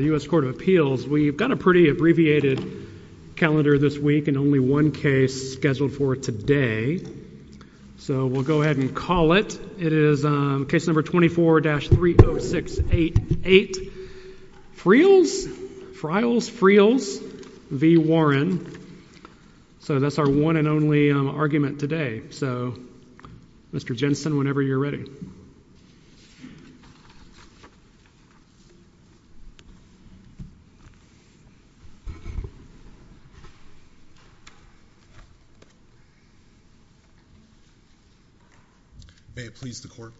The U.S. Court of Appeals, we've got a pretty abbreviated calendar this week and only one case scheduled for today. So we'll go ahead and call it. It is case number 24-30688 Friels v. Warren. So that's our one and only argument today. So, Mr. Jensen, whenever you're ready. May it please the Court.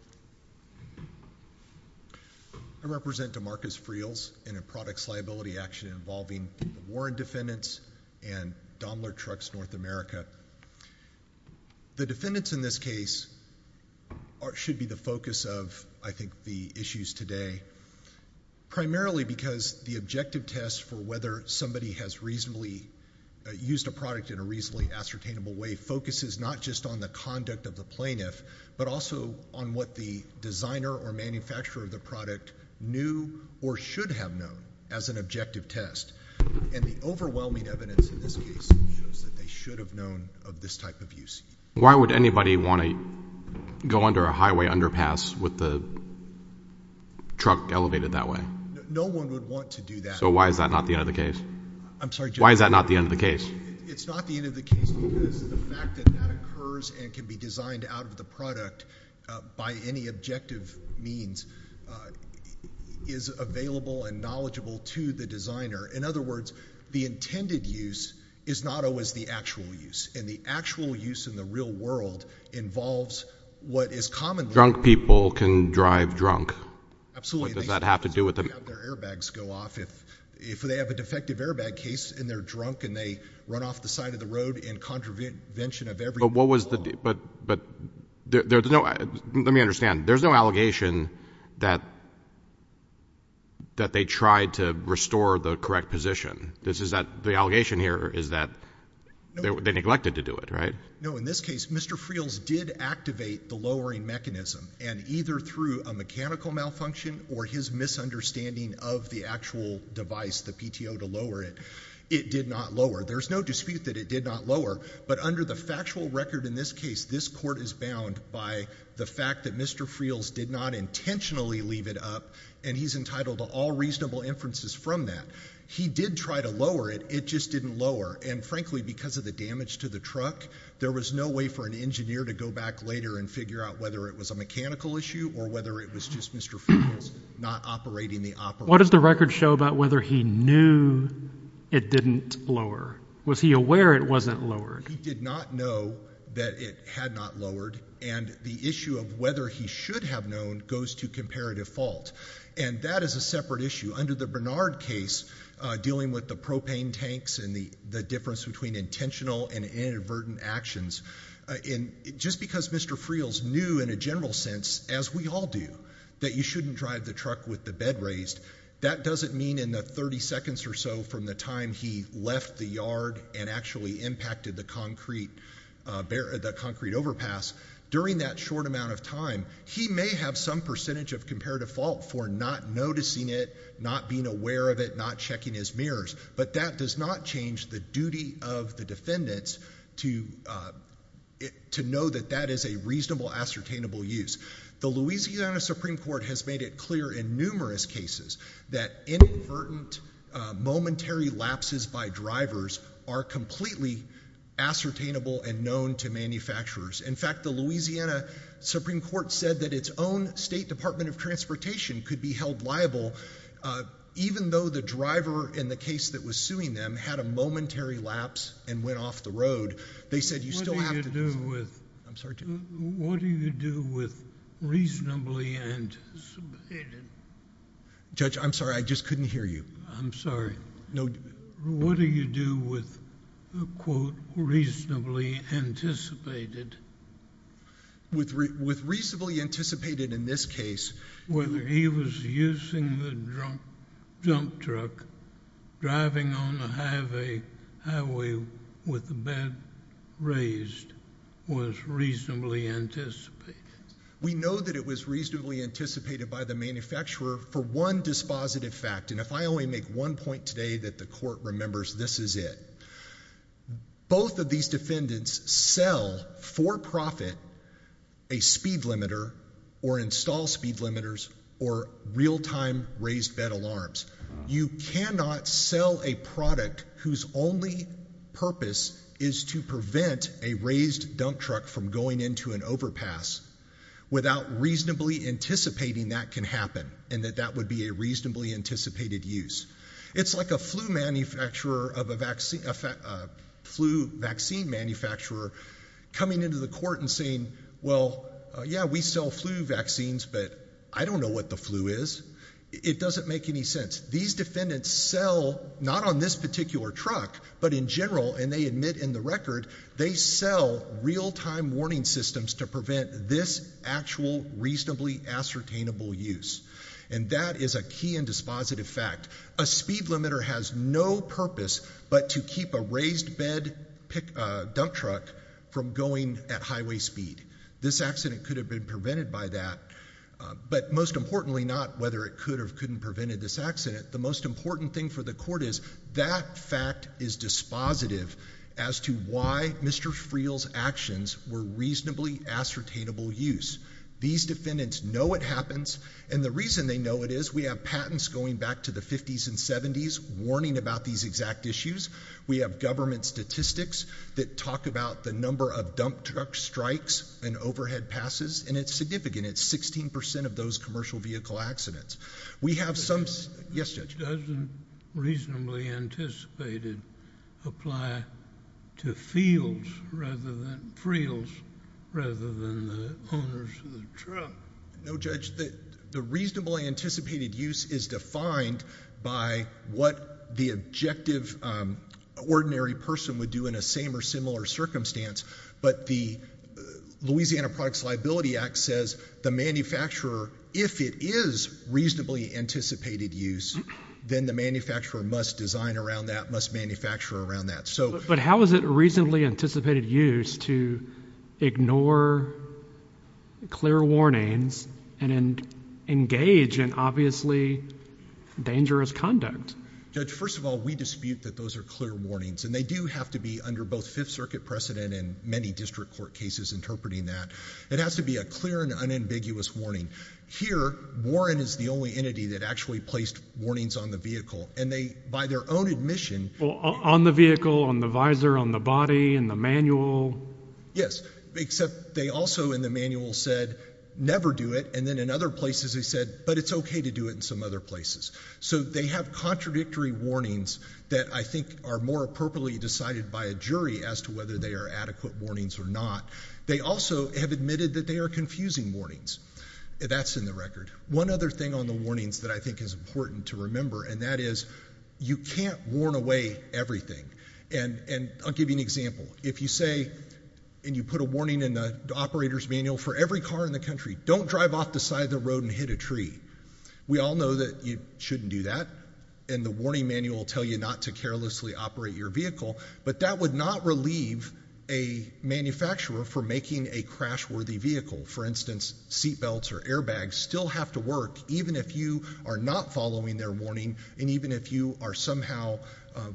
I represent Demarcus Friels in a products liability action involving the Warren defendants and Daimler Trucks North America. The defendants in this case should be the focus of, I think, the issues today, primarily because the objective test for whether somebody has reasonably used a product in a reasonably ascertainable way focuses not just on the conduct of the plaintiff, but also on what the designer or manufacturer of the product knew or should have known as an objective test. And the overwhelming evidence in this case shows that they should have known of this type of use. Why would anybody want to go under a highway underpass with the truck elevated that way? No one would want to do that. So why is that not the end of the case? Why is that not the end of the case? It's not the end of the case because the fact that that occurs and can be designed out of the product by any objective means is available and knowledgeable to the designer. In other words, the intended use is not always the actual use. And the actual use in the real world involves what is commonly— Drunk people can drive drunk. Absolutely. What does that have to do with the— They have their airbags go off. If they have a defective airbag case and they're drunk and they run off the side of the road in contravention of every rule of law— But what was the—let me understand. There's no allegation that they tried to restore the correct position. The allegation here is that they neglected to do it, right? No. In this case, Mr. Friel's did activate the lowering mechanism and either through a mechanical malfunction or his misunderstanding of the actual device, the PTO, to lower it, it did not lower. There's no dispute that it did not lower, but under the factual record in this case, this court is bound by the fact that Mr. Friel's did not intentionally leave it up and he's entitled to all reasonable inferences from that. He did try to lower it. It just didn't lower. And frankly, because of the damage to the truck, there was no way for an engineer to go back later and figure out whether it was a mechanical issue or whether it was just Mr. Friel's not operating the operator. What does the record show about whether he knew it didn't lower? Was he aware it wasn't lowered? He did not know that it had not lowered. And the issue of whether he should have known goes to comparative fault. And that is a separate issue. Under the Bernard case, dealing with the propane tanks and the difference between intentional and inadvertent actions, just because Mr. Friel's knew in a general sense, as we all do, that you shouldn't drive the truck with the bed raised, that doesn't mean in the 30 seconds or so from the time he left the yard and actually impacted the concrete overpass, during that short amount of time, he may have some percentage of comparative fault for not noticing it, not being aware of it, not checking his mirrors, but that does not change the duty of the defendants to know that that is a reasonable, ascertainable use. The Louisiana Supreme Court has made it clear in numerous cases that inadvertent momentary lapses by drivers are completely ascertainable and known to manufacturers. In fact, the Louisiana Supreme Court said that its own State Department of Transportation could be held liable even though the driver in the case that was suing them had a momentary lapse and went off the road. They said you still have to... What do you do with, quote, reasonably anticipated... Judge, I'm sorry. I just couldn't hear you. I'm sorry. No... What do you do with, quote, reasonably anticipated... With reasonably anticipated in this case... Whether he was using the dump truck, driving on the highway with the bed raised was reasonably anticipated. We know that it was reasonably anticipated by the manufacturer for one dispositive fact, and if I only make one point today that the court remembers, this is it. Both of these defendants sell for profit a speed limiter or install speed limiters or real-time raised bed alarms. You cannot sell a product whose only purpose is to prevent a raised dump truck from going into an overpass without reasonably anticipating that can happen and that that would be a reasonably anticipated use. It's like a flu vaccine manufacturer coming into the court and saying, well, yeah, we sell flu vaccines, but I don't know what the flu is. It doesn't make any sense. These defendants sell not on this particular truck, but in general, and they admit in the record, they sell real-time warning systems to prevent this actual reasonably ascertainable use, and that is a key and dispositive fact. A speed limiter has no purpose but to keep a raised bed dump truck from going at highway speed. This accident could have been prevented by that, but most importantly not whether it could or couldn't have prevented this accident. The most important thing for the court is that fact is dispositive as to why Mr. Friel's actions were reasonably ascertainable use. These defendants know it happens, and the reason they know it is we have patents going back to the 50s and 70s warning about these exact issues. We have government statistics that talk about the number of dump truck strikes and overhead passes, and it's significant. It's 16 percent of those commercial vehicle accidents. We have some... Yes, Judge. It doesn't reasonably anticipated apply to Friel's rather than the owners of the truck. No, Judge. The reasonably anticipated use is defined by what the objective ordinary person would do in a same or similar circumstance, but the Louisiana Products Liability Act says the manufacturer, if it is reasonably anticipated use, then the manufacturer must design around that, must manufacture around that. But how is it reasonably anticipated use to ignore clear warnings and engage in obviously dangerous conduct? Judge, first of all, we dispute that those are clear warnings, and they do have to be under both Fifth Circuit precedent and many district court cases interpreting that. It has to be a clear and unambiguous warning. Here Warren is the only entity that actually placed warnings on the vehicle, and they, by their own admission... On the vehicle, on the visor, on the body, in the manual? Yes, except they also in the manual said never do it, and then in other places they said, but it's okay to do it in some other places. So they have contradictory warnings that I think are more appropriately decided by a jury as to whether they are adequate warnings or not. They also have admitted that they are confusing warnings. That's in the record. One other thing on the warnings that I think is important to remember, and that is you can't warn away everything. And I'll give you an example. If you say, and you put a warning in the operator's manual for every car in the country, don't drive off the side of the road and hit a tree, we all know that you shouldn't do that, and the warning manual will tell you not to carelessly operate your vehicle, but that would not relieve a manufacturer for making a crash-worthy vehicle. For instance, seat belts or airbags still have to work even if you are not following their warning, and even if you are somehow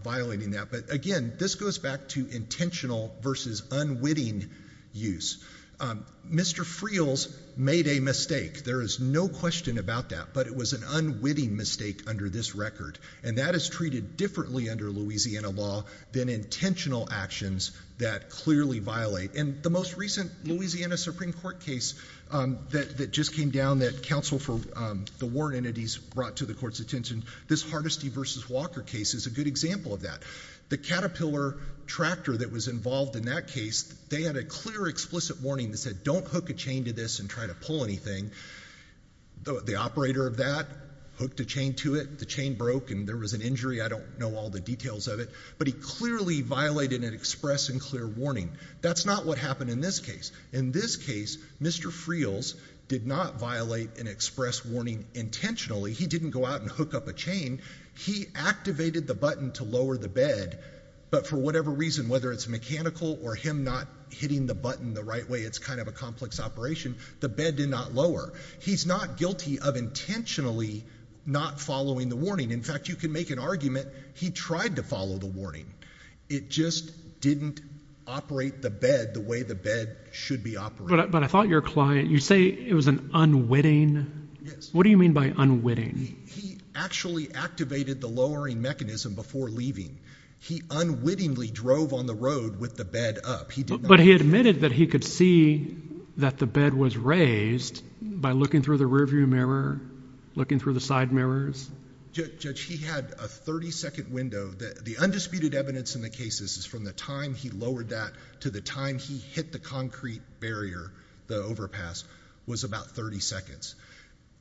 violating that. But again, this goes back to intentional versus unwitting use. Mr. Friel's made a mistake. There is no question about that, but it was an unwitting mistake under this record. And that is treated differently under Louisiana law than intentional actions that clearly violate. And the most recent Louisiana Supreme Court case that just came down that counsel for the warrant entities brought to the court's attention, this Hardesty versus Walker case is a good example of that. The Caterpillar tractor that was involved in that case, they had a clear explicit warning that said don't hook a chain to this and try to pull anything. The operator of that hooked a chain to it, the chain broke, and there was an injury. I don't know all the details of it, but he clearly violated an express and clear warning. That's not what happened in this case. In this case, Mr. Friel's did not violate an express warning intentionally. He didn't go out and hook up a chain. He activated the button to lower the bed. But for whatever reason, whether it's mechanical or him not hitting the button the right way, it's kind of a complex operation, the bed did not lower. He's not guilty of intentionally not following the warning. In fact, you can make an argument he tried to follow the warning. It just didn't operate the bed the way the bed should be operated. But I thought your client, you say it was an unwitting? Yes. What do you mean by unwitting? He actually activated the lowering mechanism before leaving. He unwittingly drove on the road with the bed up. He did not- But he admitted that he could see that the bed was raised by looking through the rear view mirror, looking through the side mirrors. Judge, he had a 30-second window. The undisputed evidence in the case is from the time he lowered that to the time he hit the concrete barrier, the overpass, was about 30 seconds.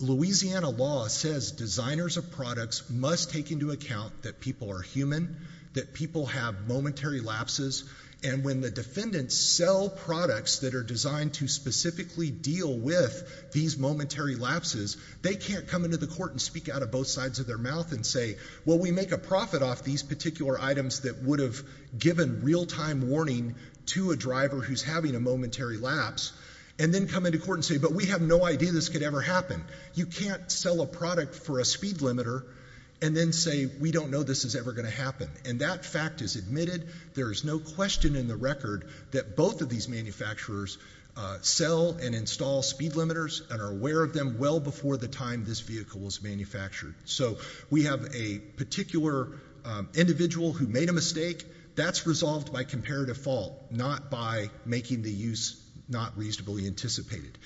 Louisiana law says designers of products must take into account that people are human, that people have momentary lapses. And when the defendants sell products that are designed to specifically deal with these momentary lapses, they can't come into the court and speak out of both sides of their mouth and say, well, we make a profit off these particular items that would have given real-time warning to a driver who's having a momentary lapse, and then come into court and say, but we have no idea this could ever happen. You can't sell a product for a speed limiter and then say, we don't know this is ever going to happen. And that fact is admitted. There is no question in the record that both of these manufacturers sell and install speed limiters and are aware of them well before the time this vehicle was manufactured. So we have a particular individual who made a mistake. That's resolved by comparative fault, not by making the use not reasonably anticipated.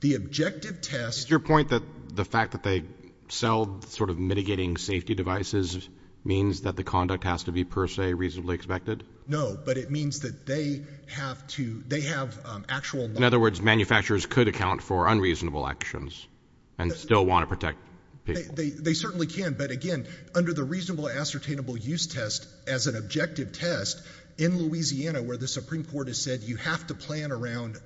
The objective test. Is your point that the fact that they sell sort of mitigating safety devices means that the conduct has to be per se reasonably expected? No, but it means that they have to, they have actual. In other words, manufacturers could account for unreasonable actions and still want to protect people. They certainly can, but again, under the reasonable ascertainable use test as an objective test in Louisiana where the Supreme Court has said you have to plan around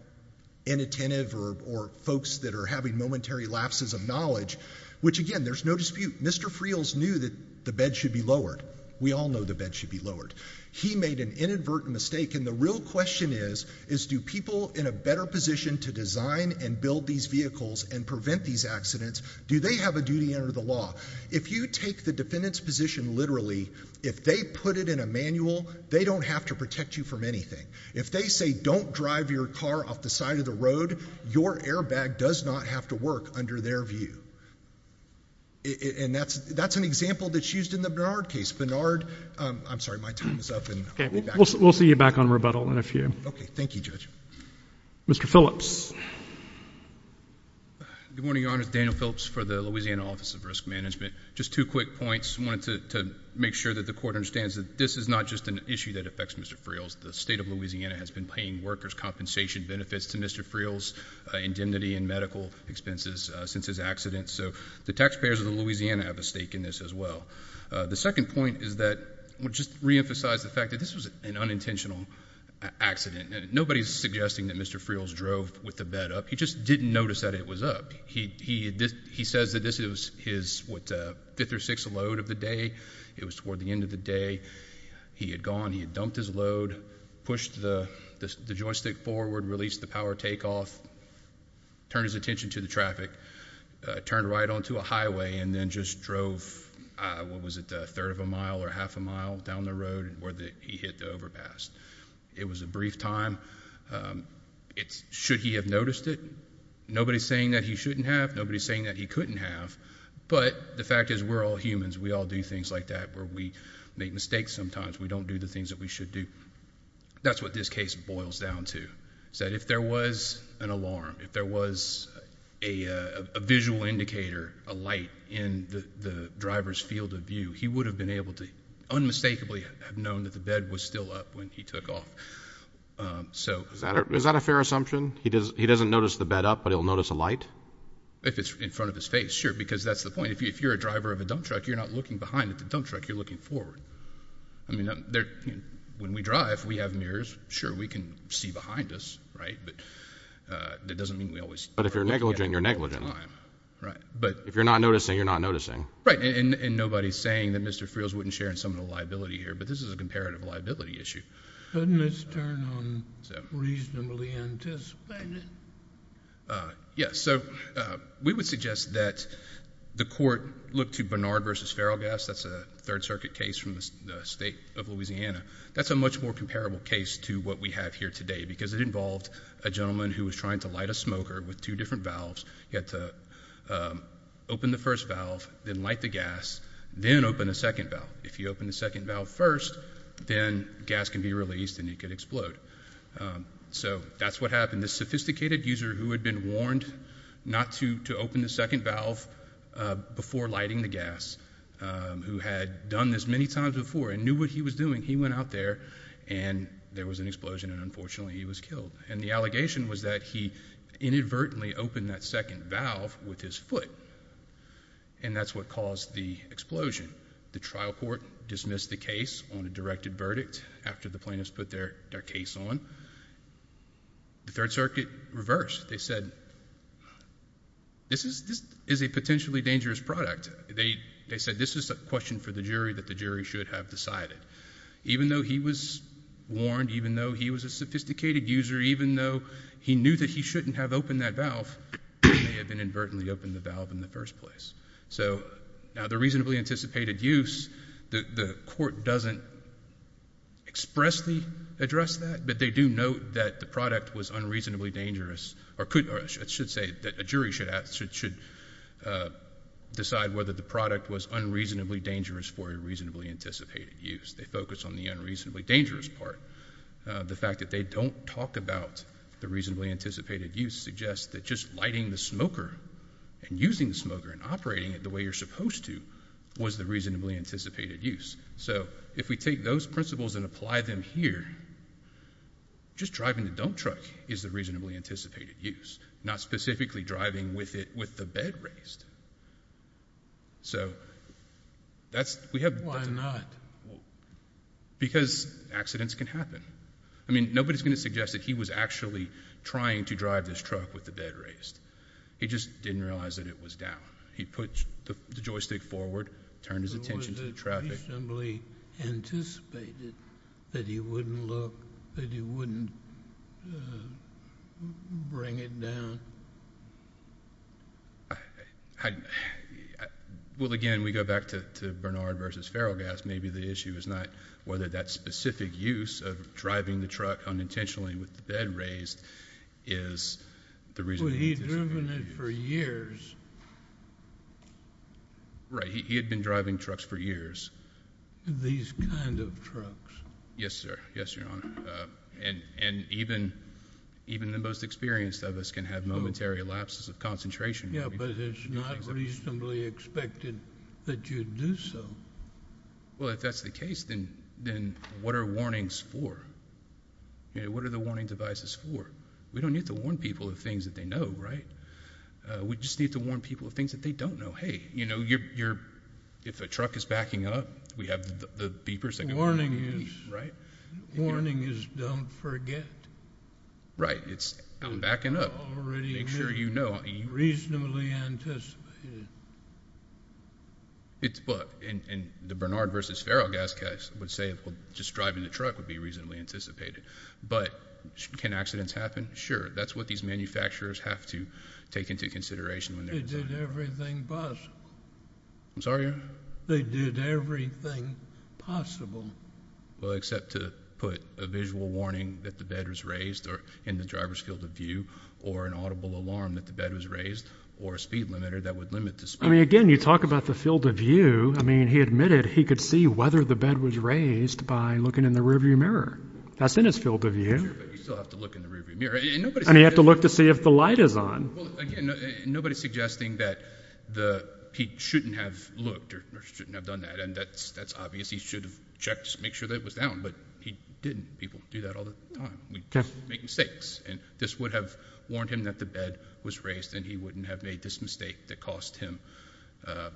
inattentive or folks that are having momentary lapses of knowledge, which again, there's no dispute. Mr. Friel's knew that the bed should be lowered. We all know the bed should be lowered. He made an inadvertent mistake. And the real question is, is do people in a better position to design and build these vehicles and prevent these accidents, do they have a duty under the law? If you take the defendant's position literally, if they put it in a manual, they don't have to protect you from anything. If they say don't drive your car off the side of the road, your airbag does not have to work under their view. And that's an example that's used in the Bernard case. Bernard, I'm sorry, my time is up. We'll see you back on rebuttal in a few. OK, thank you, Judge. Mr. Phillips. Good morning, Your Honor. Daniel Phillips for the Louisiana Office of Risk Management. Just two quick points. I wanted to make sure that the court understands that this is not just an issue that affects Mr. Friel's. The state of Louisiana has been paying workers' compensation benefits to Mr. Friel's indemnity and medical expenses since his accident. So the taxpayers of Louisiana have a stake in this as well. The second point is that we'll just reemphasize the fact that this was an unintentional accident. Nobody's suggesting that Mr. Friel's drove with the bed up. He just didn't notice that it was up. He says that this was his fifth or sixth load of the day. It was toward the end of the day. He had gone, he had dumped his load, pushed the joystick forward, released the power takeoff, turned his attention to the traffic, turned right onto a highway, and then just drove, what was it, a third of a mile or half a mile down the road where he hit the overpass. It was a brief time. Should he have noticed it? Nobody's saying that he shouldn't have. Nobody's saying that he couldn't have. But the fact is, we're all humans. We all do things like that where we make mistakes sometimes. We don't do the things that we should do. That's what this case boils down to, is that if there was an alarm, if there was a visual indicator, a light in the driver's field of view, he would have been able to unmistakably have known that the bed was still up when he took off. So is that a fair assumption? He doesn't notice the bed up, but he'll notice a light? If it's in front of his face, sure, because that's the point. If you're a driver of a dump truck, you're not looking behind at the dump truck, you're looking forward. I mean, when we drive, we have mirrors. Sure, we can see behind us, right? But that doesn't mean we always start looking at it at the same time. But if you're negligent, you're negligent. Right. But if you're not noticing, you're not noticing. Right, and nobody's saying that Mr. Friels wouldn't share in some of the liability here, but this is a comparative liability issue. Couldn't this turn on reasonably anticipated? Yes, so we would suggest that the court look to Barnard versus Feralgas. That's a Third Circuit case from the state of Louisiana. That's a much more comparable case to what we have here today, because it involved a gentleman who was trying to light a smoker with two different valves. He had to open the first valve, then light the gas, then open the second valve. If you open the second valve first, then gas can be released, and it could explode. So that's what happened. This sophisticated user who had been warned not to open the second valve before lighting the gas, who had done this many times before and knew what he was doing, he went out there, and there was an explosion, and unfortunately he was killed. And the allegation was that he inadvertently opened that second valve with his foot, and that's what caused the explosion. The trial court dismissed the case on a directed verdict after the plaintiffs put their case on. The Third Circuit reversed. They said, this is a potentially dangerous product. They said, this is a question for the jury that the jury should have decided. Even though he was warned, even though he was a sophisticated user, even though he knew that he shouldn't have opened that valve, he may have inadvertently opened the valve in the first place. So now the reasonably anticipated use, the court doesn't expressly address that, but they do note that the product was unreasonably dangerous, or should say that a jury should decide whether the product was unreasonably dangerous for a reasonably anticipated use. They focus on the unreasonably dangerous part. The fact that they don't talk about the reasonably anticipated use suggests that just lighting the smoker and using the smoker and operating it the way you're supposed to was the reasonably anticipated use. So if we take those principles and apply them here, just driving the dump truck is the reasonably anticipated use, not specifically driving with the bed raised. So that's, we have. Why not? Because accidents can happen. I mean, nobody's going to suggest that he was actually trying to drive this truck with the bed raised. He just didn't realize that it was down. He put the joystick forward, turned his attention to the traffic. It was reasonably anticipated that he wouldn't look, that he wouldn't bring it down. I, well, again, we go back to Bernard versus Ferrel Gas. Maybe the issue is not whether that specific use of driving the truck unintentionally with the bed raised is the reason for the anticipated use. Well, he'd driven it for years. Right. He had been driving trucks for years. These kind of trucks. Yes, sir. Yes, Your Honor. And even the most experienced of us can have momentary lapses of concentration. Yes, but it's not reasonably expected that you'd do so. Well, if that's the case, then what are warnings for? What are the warning devices for? We don't need to warn people of things that they know, right? We just need to warn people of things that they don't know. Hey, you know, you're, if a truck is backing up, we have the beepers that go beep, right? Warning is don't forget. Right. It's backing up. Already make sure you know. Reasonably anticipated. It's, well, in the Bernard versus Ferrel Gas case, I would say just driving the truck would be reasonably anticipated. But can accidents happen? Sure. That's what these manufacturers have to take into consideration. They did everything possible. I'm sorry? They did everything possible. Well, except to put a visual warning that the bed was raised or in the driver's field of view or an audible alarm that the bed was raised or a speed limiter that would limit the speed. I mean, again, you talk about the field of view. I mean, he admitted he could see whether the bed was raised by looking in the rearview mirror. That's in his field of view. But you still have to look in the rearview mirror. I mean, you have to look to see if the light is on. Well, again, nobody's suggesting that he shouldn't have looked or shouldn't have done that. And that's obvious. He should have checked to make sure that it was down. But he didn't. People do that all the time. We make mistakes. And this would have warned him that the bed was raised. And he wouldn't have made this mistake that cost him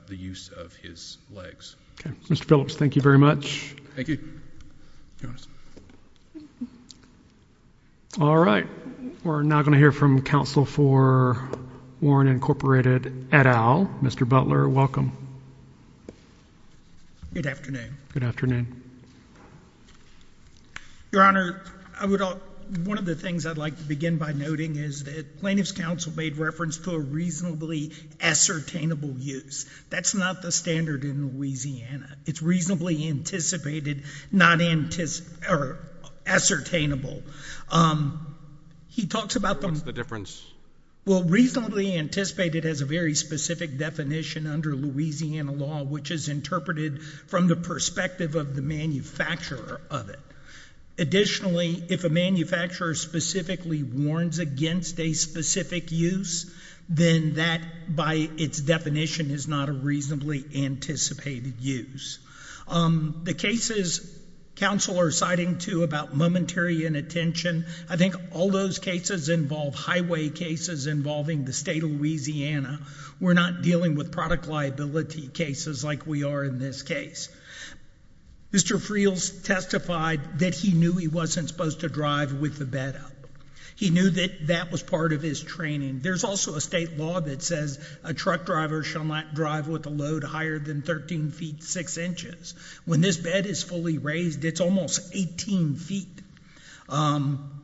the use of his legs. Mr. Phillips, thank you very much. Thank you. All right. We're now going to hear from counsel for Warren Incorporated et al. Mr. Butler, welcome. Good afternoon. Your Honor, one of the things I'd like to begin by noting is that plaintiff's counsel made reference to a reasonably ascertainable use. That's not the standard in Louisiana. It's reasonably anticipated, not ascertainable. He talks about them. What's the difference? Well, reasonably anticipated has a very specific definition under Louisiana law, which is interpreted from the perspective of the manufacturer of it. Additionally, if a manufacturer specifically warns against a specific use, then that, by its definition, is not a reasonably anticipated use. The cases counsel are citing, too, about momentary inattention, I think all those cases involve highway cases involving the state of Louisiana. We're not dealing with product liability cases like we are in this case. Mr. Friels testified that he knew he wasn't supposed to drive with the bed up. He knew that that was part of his training. There's also a state law that says a truck driver shall not drive with a load higher than 13 feet 6 inches. When this bed is fully raised, it's almost 18 feet.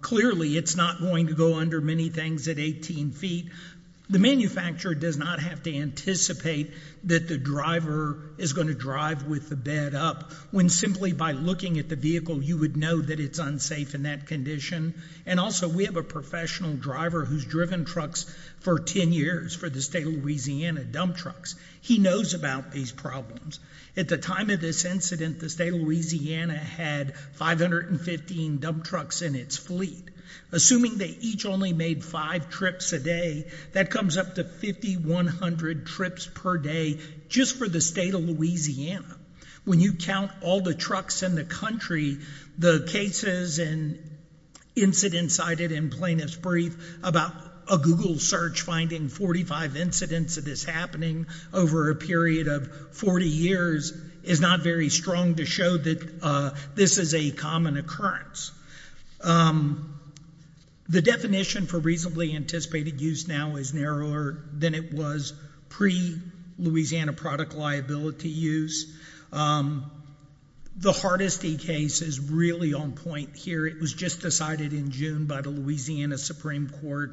Clearly, it's not going to go under many things at 18 feet. The manufacturer does not have to anticipate that the driver is going to drive with the bed up, when simply by looking at the vehicle, you would know that it's unsafe in that condition. And also, we have a professional driver who's driven trucks for 10 years for the state of Louisiana dump trucks. He knows about these problems. At the time of this incident, the state of Louisiana had 515 dump trucks in its fleet. Assuming they each only made five trips a day, that comes up to 5,100 trips per day just for the state of Louisiana. When you count all the trucks in the country, the cases and incidents cited in Plaintiff's Brief about a Google search finding 45 incidents of this happening over a period of 40 years is not very strong to show that this is a common occurrence. The definition for reasonably anticipated use now is narrower than it was pre-Louisiana product liability use. The Hardesty case is really on point here. It was just decided in June by the Louisiana Supreme Court.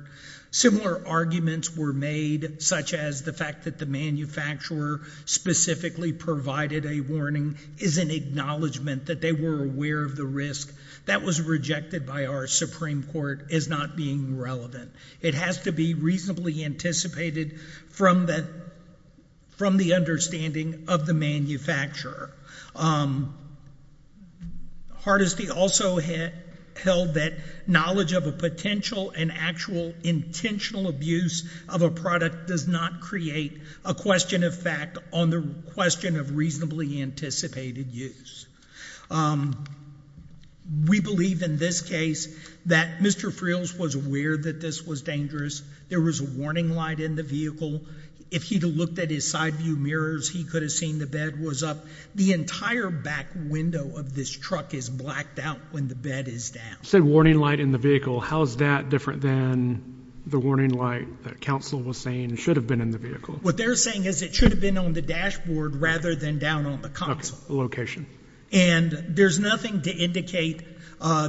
Similar arguments were made, such as the fact that the manufacturer specifically provided a warning is an acknowledgment that they were aware of the risk. That was rejected by our Supreme Court as not being relevant. It has to be reasonably anticipated from the understanding of the manufacturer. Hardesty also held that knowledge of a potential and actual intentional abuse of a product does not create a question of fact on the question of reasonably anticipated use. We believe in this case that Mr. Friels was aware that this was dangerous. There was a warning light in the vehicle. If he'd have looked at his side view mirrors, he could have seen the bed was up. The entire back window of this truck is blacked out when the bed is down. Said warning light in the vehicle. How is that different than the warning light that counsel was saying should have been in the vehicle? What they're saying is it should have been on the dashboard rather than down on the console. Location. And there's nothing to indicate,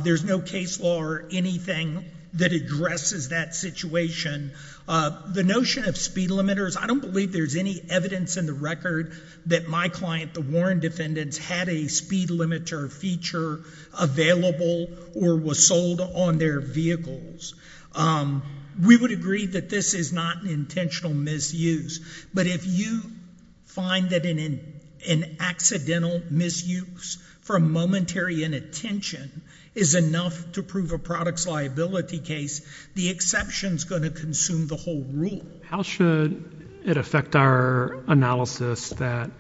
there's no case law or anything that addresses that situation. The notion of speed limiters, I don't believe there's any evidence in the record that my client, the Warren defendants, had a speed limiter feature available or was sold on their vehicles. We would agree that this is not an intentional misuse. But if you find that an accidental misuse for a momentary inattention is enough to prove a product's liability case, the exception is going to consume the whole rule. How should it affect our analysis that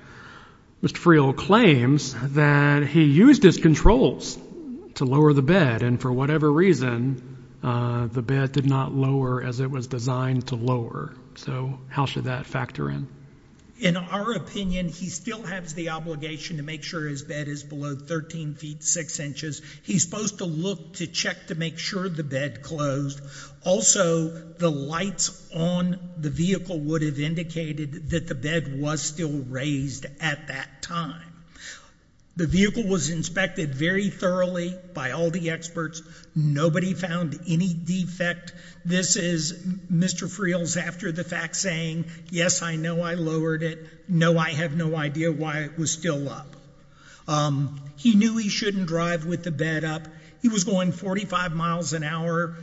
Mr. Friel claims that he used his controls to lower the bed and for whatever reason, the bed did not lower as it was designed to lower. So how should that factor in? In our opinion, he still has the obligation to make sure his bed is below 13 feet 6 inches. He's supposed to look to check to make sure the bed closed. Also, the lights on the vehicle would have indicated that the bed was still raised at that time. The vehicle was inspected very thoroughly by all the experts. Nobody found any defect. This is Mr. Friel's after the fact saying, yes, I know I lowered it. No, I have no idea why it was still up. He knew he shouldn't drive with the bed up. He was going 45 miles an hour.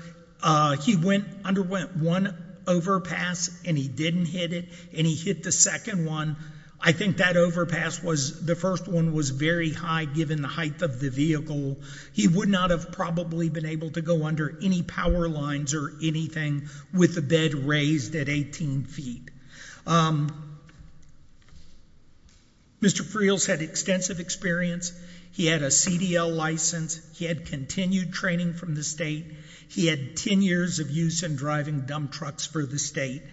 He underwent one overpass, and he didn't hit it. And he hit the second one. I think that overpass was, the first one was very high given the height of the vehicle. He would not have probably been able to go under any power lines or anything with the bed raised at 18 feet. Mr. Friel's had extensive experience. He had a CDL license. He had continued training from the state. He had 10 years of use in driving dump trucks for the state.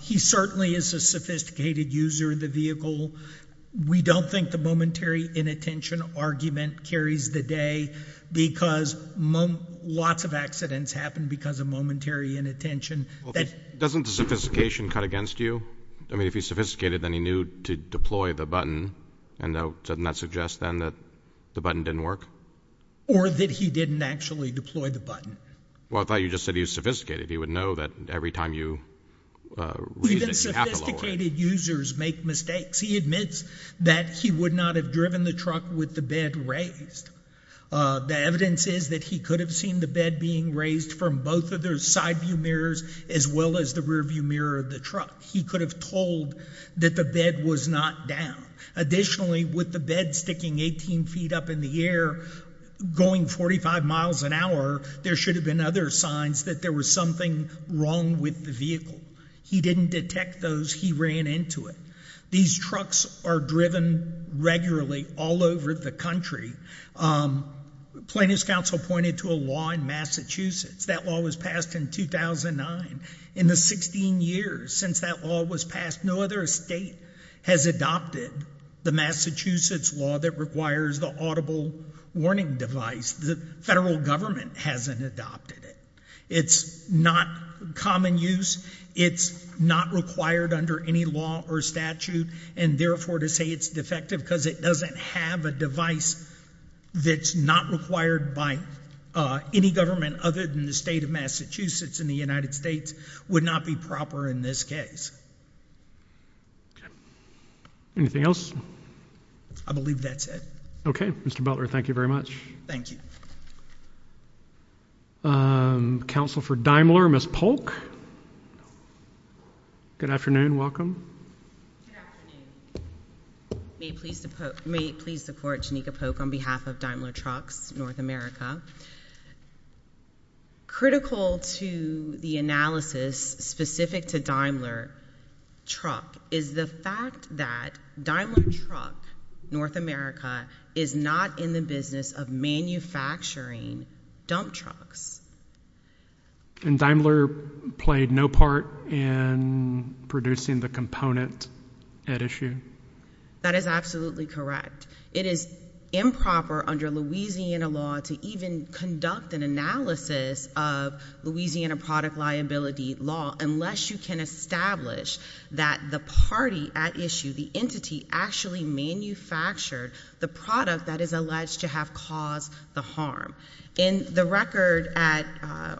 He certainly is a sophisticated user of the vehicle. We don't think the momentary inattention argument carries the day, because lots of accidents happen because of momentary inattention. Doesn't the sophistication cut against you? I mean, if he's sophisticated, then he knew to deploy the button. And doesn't that suggest, then, that the button didn't work? Or that he didn't actually deploy the button. Well, I thought you just said he was sophisticated. He would know that every time you read it, you have to lower it. Even sophisticated users make mistakes. He admits that he would not have driven the truck with the bed raised. The evidence is that he could have seen the bed being raised from both of those side view mirrors, as well as the rear view mirror of the truck. He could have told that the bed was not down. Additionally, with the bed sticking 18 feet up in the air, going 45 miles an hour, there should have been other signs that there was something wrong with the vehicle. He didn't detect those. He ran into it. These trucks are driven regularly all over the country. Plaintiff's counsel pointed to a law in Massachusetts. That law was passed in 2009. In the 16 years since that law was passed, no other state has adopted the Massachusetts law that requires the audible warning device. The federal government hasn't adopted it. It's not common use. It's not required under any law or statute. And therefore, to say it's defective because it doesn't have a device that's not required by any government other than the state of Massachusetts and the United States would not be proper in this case. Anything else? I believe that's it. OK, Mr. Butler, thank you very much. Thank you. Counsel for Daimler, Ms. Polk? Good afternoon. Good afternoon. May it please the court, Janika Polk on behalf of Daimler Trucks North America. Critical to the analysis specific to Daimler Truck is the fact that Daimler Truck North America is not in the business of manufacturing dump trucks. And Daimler played no part in producing the component at issue? That is absolutely correct. It is improper under Louisiana law to even conduct an analysis of Louisiana product liability law unless you can establish that the party at issue, the entity actually manufactured the product that is alleged to have caused the harm. In the record at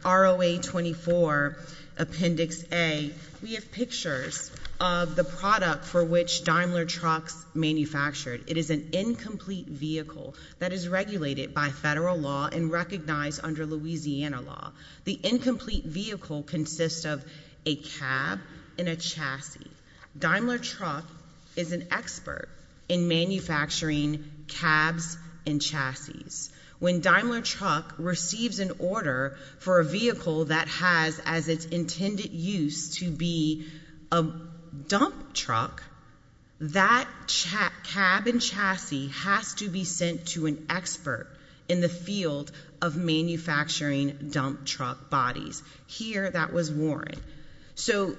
ROA 24 Appendix A, we have pictures of the product for which Daimler Trucks manufactured. It is an incomplete vehicle that is regulated by federal law and recognized under Louisiana law. The incomplete vehicle consists of a cab and a chassis. Daimler Truck is an expert in manufacturing cabs and chassis. When Daimler Truck receives an order for a vehicle that has as its intended use to be a dump truck, that cab and chassis has to be sent to an expert in the field of manufacturing dump truck bodies. Here, that was Warren. So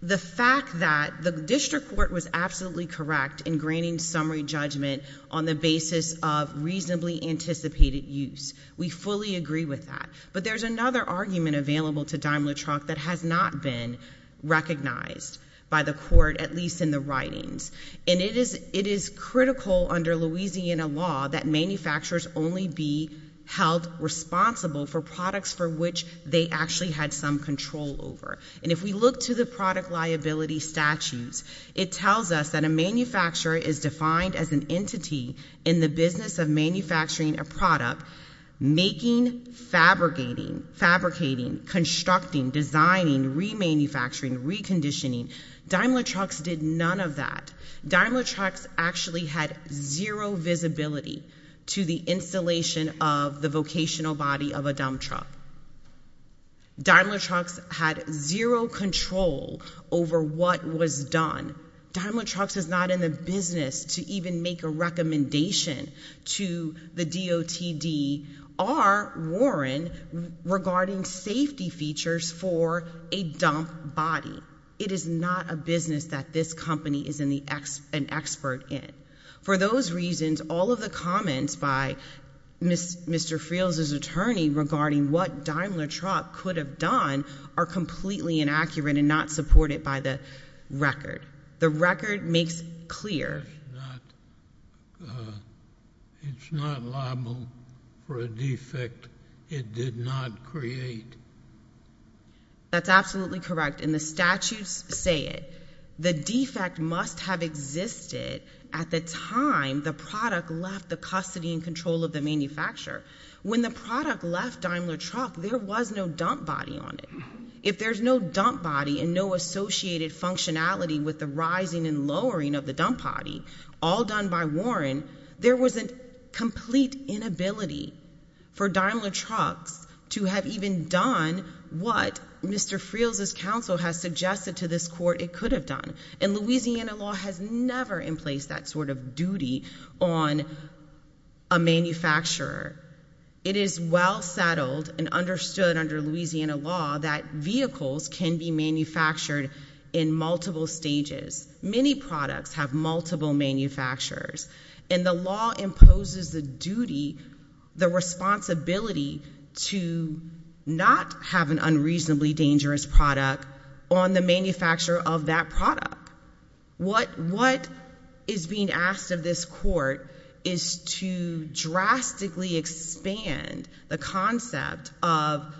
the fact that the district court was absolutely correct in granting summary judgment on the basis of reasonably anticipated use, we fully agree with that. But there's another argument available to Daimler Truck that has not been recognized by the court, at least in the writings. And it is critical under Louisiana law that manufacturers only be held responsible for products for which they actually had some control over. And if we look to the product liability statutes, it tells us that a manufacturer is defined as an entity in the business of manufacturing a product, making, fabricating, fabricating, constructing, designing, remanufacturing, reconditioning. Daimler Trucks did none of that. Daimler Trucks actually had zero visibility to the installation of the vocational body of a dump truck. Daimler Trucks had zero control over what was done. Daimler Trucks is not in the business to even make a recommendation to the DOTD or Warren regarding safety features for a dump body. It is not a business that this company is an expert in. For those reasons, all of the comments by Mr. Friel's attorney regarding what Daimler Truck could have done are completely inaccurate and not supported by the record. The record makes clear... It's not liable for a defect it did not create. That's absolutely correct, and the statutes say it. The defect must have existed at the time the product left the custody and control of the manufacturer. When the product left Daimler Truck, there was no dump body on it. If there's no dump body and no associated functionality with the rising and lowering of the dump body, all done by Warren, there was a complete inability for Daimler Trucks to have even done what Mr. Friel's counsel has suggested to this court it could have done. And Louisiana law has never in place that sort of duty on a manufacturer. It is well settled and understood under Louisiana law that vehicles can be manufactured in multiple stages. Many products have multiple manufacturers, and the law imposes the duty, the responsibility to not have an unreasonably dangerous product on the manufacturer of that product. What is being asked of this court is to drastically expand the concept of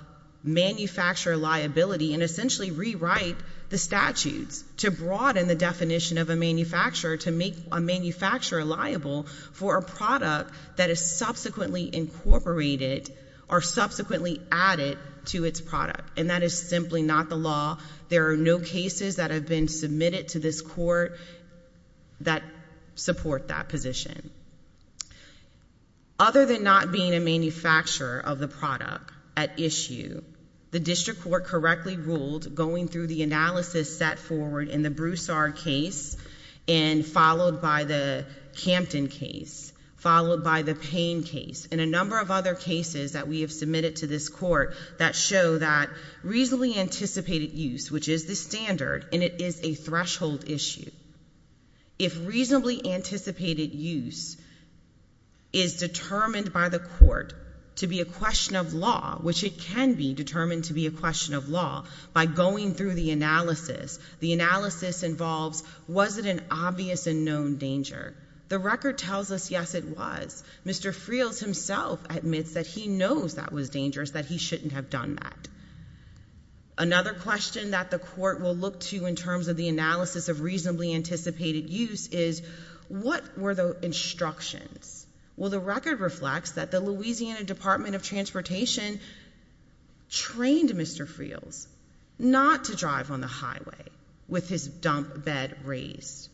manufacturer liability and essentially rewrite the statutes to broaden the definition of a manufacturer to make a manufacturer liable for a product that is subsequently incorporated or subsequently added to its product. And that is simply not the law. There are no cases that have been submitted to this court that support that position. Other than not being a manufacturer of the product at issue, the district court correctly ruled going through the analysis set forward in the Broussard case and followed by the Campton case, followed by the Payne case, and a number of other cases that we have submitted to this court that show that reasonably anticipated use, which is the standard, and it is a threshold issue. If reasonably anticipated use is determined by the court to be a question of law, which it can be determined to be a question of law, by going through the analysis, the analysis involves was it an obvious and known danger. The record tells us, yes, it was. Mr. Friels himself admits that he knows that was dangerous, that he shouldn't have done that. Another question that the court will look to in terms of the analysis of reasonably anticipated use is what were the instructions? Well, the record reflects that the Louisiana Department of Transportation trained Mr. Friels not to drive on the highway with his dump bed raised.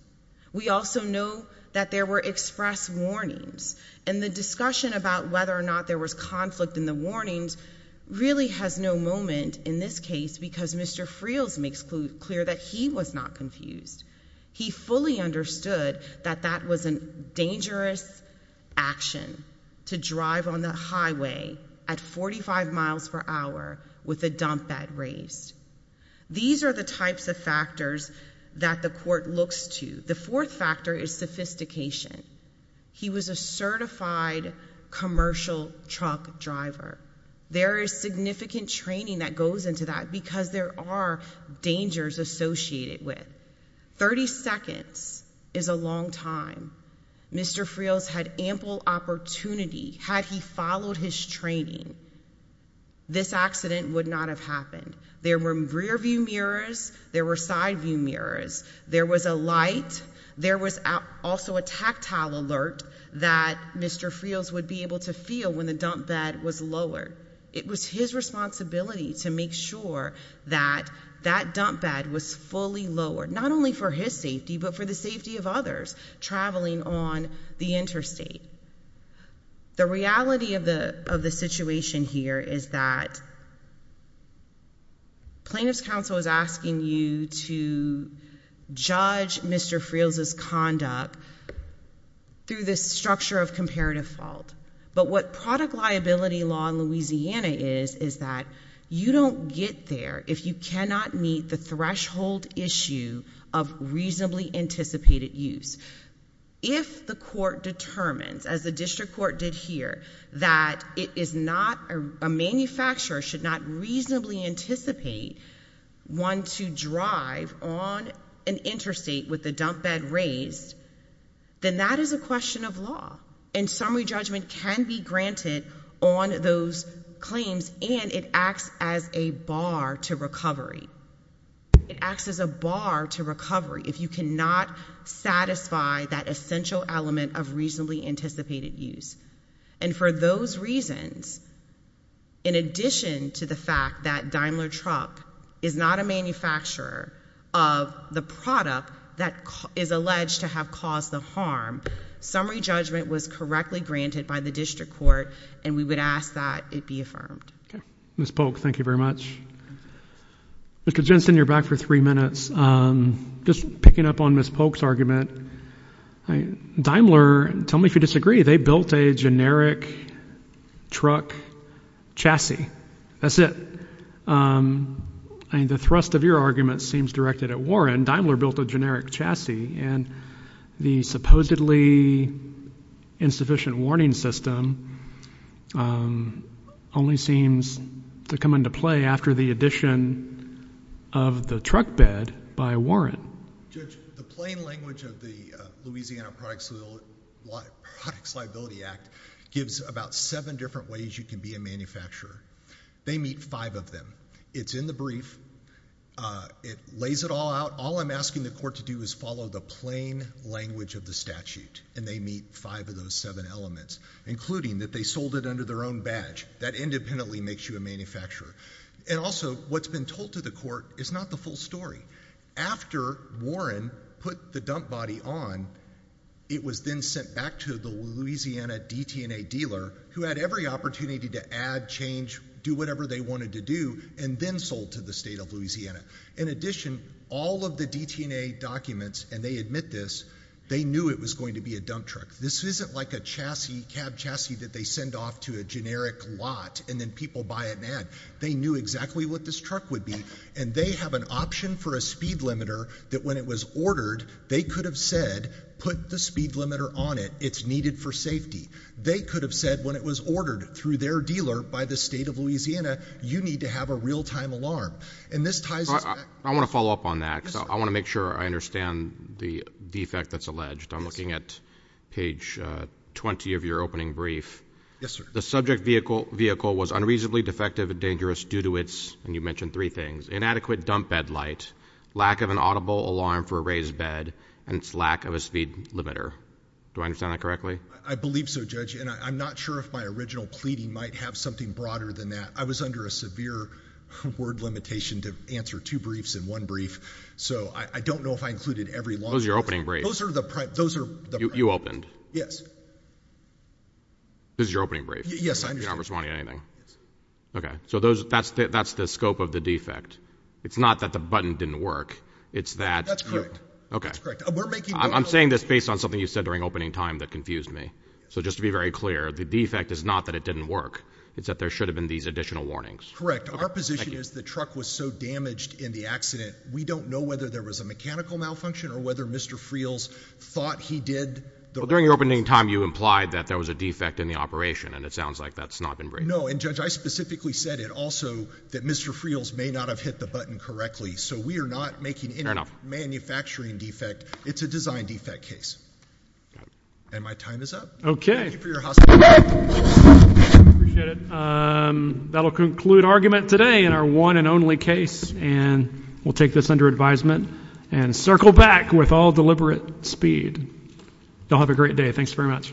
We also know that there were express warnings, and the discussion about whether or not there was conflict in the warnings really has no moment in this case because Mr. Friels makes clear that he was not confused. He fully understood that that was a dangerous action to drive on the highway at 45 miles per hour with a dump bed raised. These are the types of factors that the court looks to. The fourth factor is sophistication. He was a certified commercial truck driver. There is significant training that goes into that because there are dangers associated with. 30 seconds is a long time. Mr. Friels had ample opportunity. Had he followed his training, this accident would not have happened. There were rear view mirrors. There were side view mirrors. There was a light. There was also a tactile alert that Mr. Friels would be able to feel when the dump bed was lowered. It was his responsibility to make sure that that dump bed was fully lowered, not only for his safety, but for the safety of others traveling on the interstate. The reality of the situation here is that plaintiff's counsel is asking you to judge Mr. Friels' conduct through this structure of comparative fault. But what product liability law in Louisiana is is that you don't get there if you cannot meet the threshold issue of reasonably anticipated use. If the court determines, as the district court did here, that a manufacturer should not reasonably anticipate one to drive on an interstate with the dump bed raised, then that is a question of law. And summary judgment can be granted on those claims, and it acts as a bar to recovery. It acts as a bar to recovery if you cannot satisfy that essential element of reasonably anticipated use. And for those reasons, in addition to the fact that Daimler Truck is not a manufacturer of the product that is alleged to have caused the harm, summary judgment was correctly granted by the district court and we would ask that it be affirmed. Ms. Polk, thank you very much. Mr. Jensen, you're back for three minutes. Just picking up on Ms. Polk's argument, Daimler, tell me if you disagree, they built a generic truck chassis, that's it. I mean, the thrust of your argument seems directed at Warren. Daimler built a generic chassis, and the supposedly insufficient warning system only seems to come into play after the addition of the truck bed by Warren. Judge, the plain language of the Louisiana Products Liability Act gives about seven different ways you can be a manufacturer. They meet five of them. It's in the brief, it lays it all out. All I'm asking the court to do is follow the plain language of the statute, and they meet five of those seven elements, including that they sold it under their own badge. That independently makes you a manufacturer. And also, what's been told to the court is not the full story. After Warren put the dump body on, it was then sent back to the Louisiana DT&A dealer, who had every opportunity to add, change, do whatever they wanted to do, and then sold to the state of Louisiana. In addition, all of the DT&A documents, and they admit this, they knew it was going to be a dump truck. This isn't like a cab chassis that they send off to a generic lot, and then people buy it and add. They knew exactly what this truck would be, and they have an option for a speed limiter that when it was ordered, they could have said, put the speed limiter on it. It's needed for safety. They could have said when it was ordered through their dealer by the state of Louisiana, you need to have a real-time alarm. And this ties us back. I want to follow up on that, because I want to make sure I understand the defect that's alleged. I'm looking at page 20 of your opening brief. Yes, sir. The subject vehicle was unreasonably defective and dangerous due to its, and you mentioned three things, inadequate dump bed light, lack of an audible alarm for a raised bed, and its lack of a speed limiter. Do I understand that correctly? I believe so, Judge, and I'm not sure if my original pleading might have something broader than that. I was under a severe word limitation to answer two briefs in one brief, so I don't know if I included every long-term- Those are your opening briefs. Those are the- You opened. Yes. This is your opening brief. Yes, I understand. You're not responding to anything. Okay, so that's the scope of the defect. It's not that the button didn't work. It's that- That's correct. Okay. I'm saying this based on something you said during opening time that confused me, so just to be very clear, the defect is not that it didn't work. It's that there should have been these additional warnings. Correct. Our position is the truck was so damaged in the accident, we don't know whether there was a mechanical malfunction or whether Mr. Friel's thought he did- Well, during your opening time, you implied that there was a defect in the operation, and it sounds like that's not been briefed. No, and Judge, I specifically said it also that Mr. Friel's may not have hit the button correctly, so we are not making any manufacturing defect. It's a design defect case. And my time is up. Okay. Thank you for your hos- Okay. Appreciate it. That'll conclude argument today in our one and only case, and we'll take this under advisement, and circle back with all deliberate speed. Y'all have a great day. Thanks very much. Bye.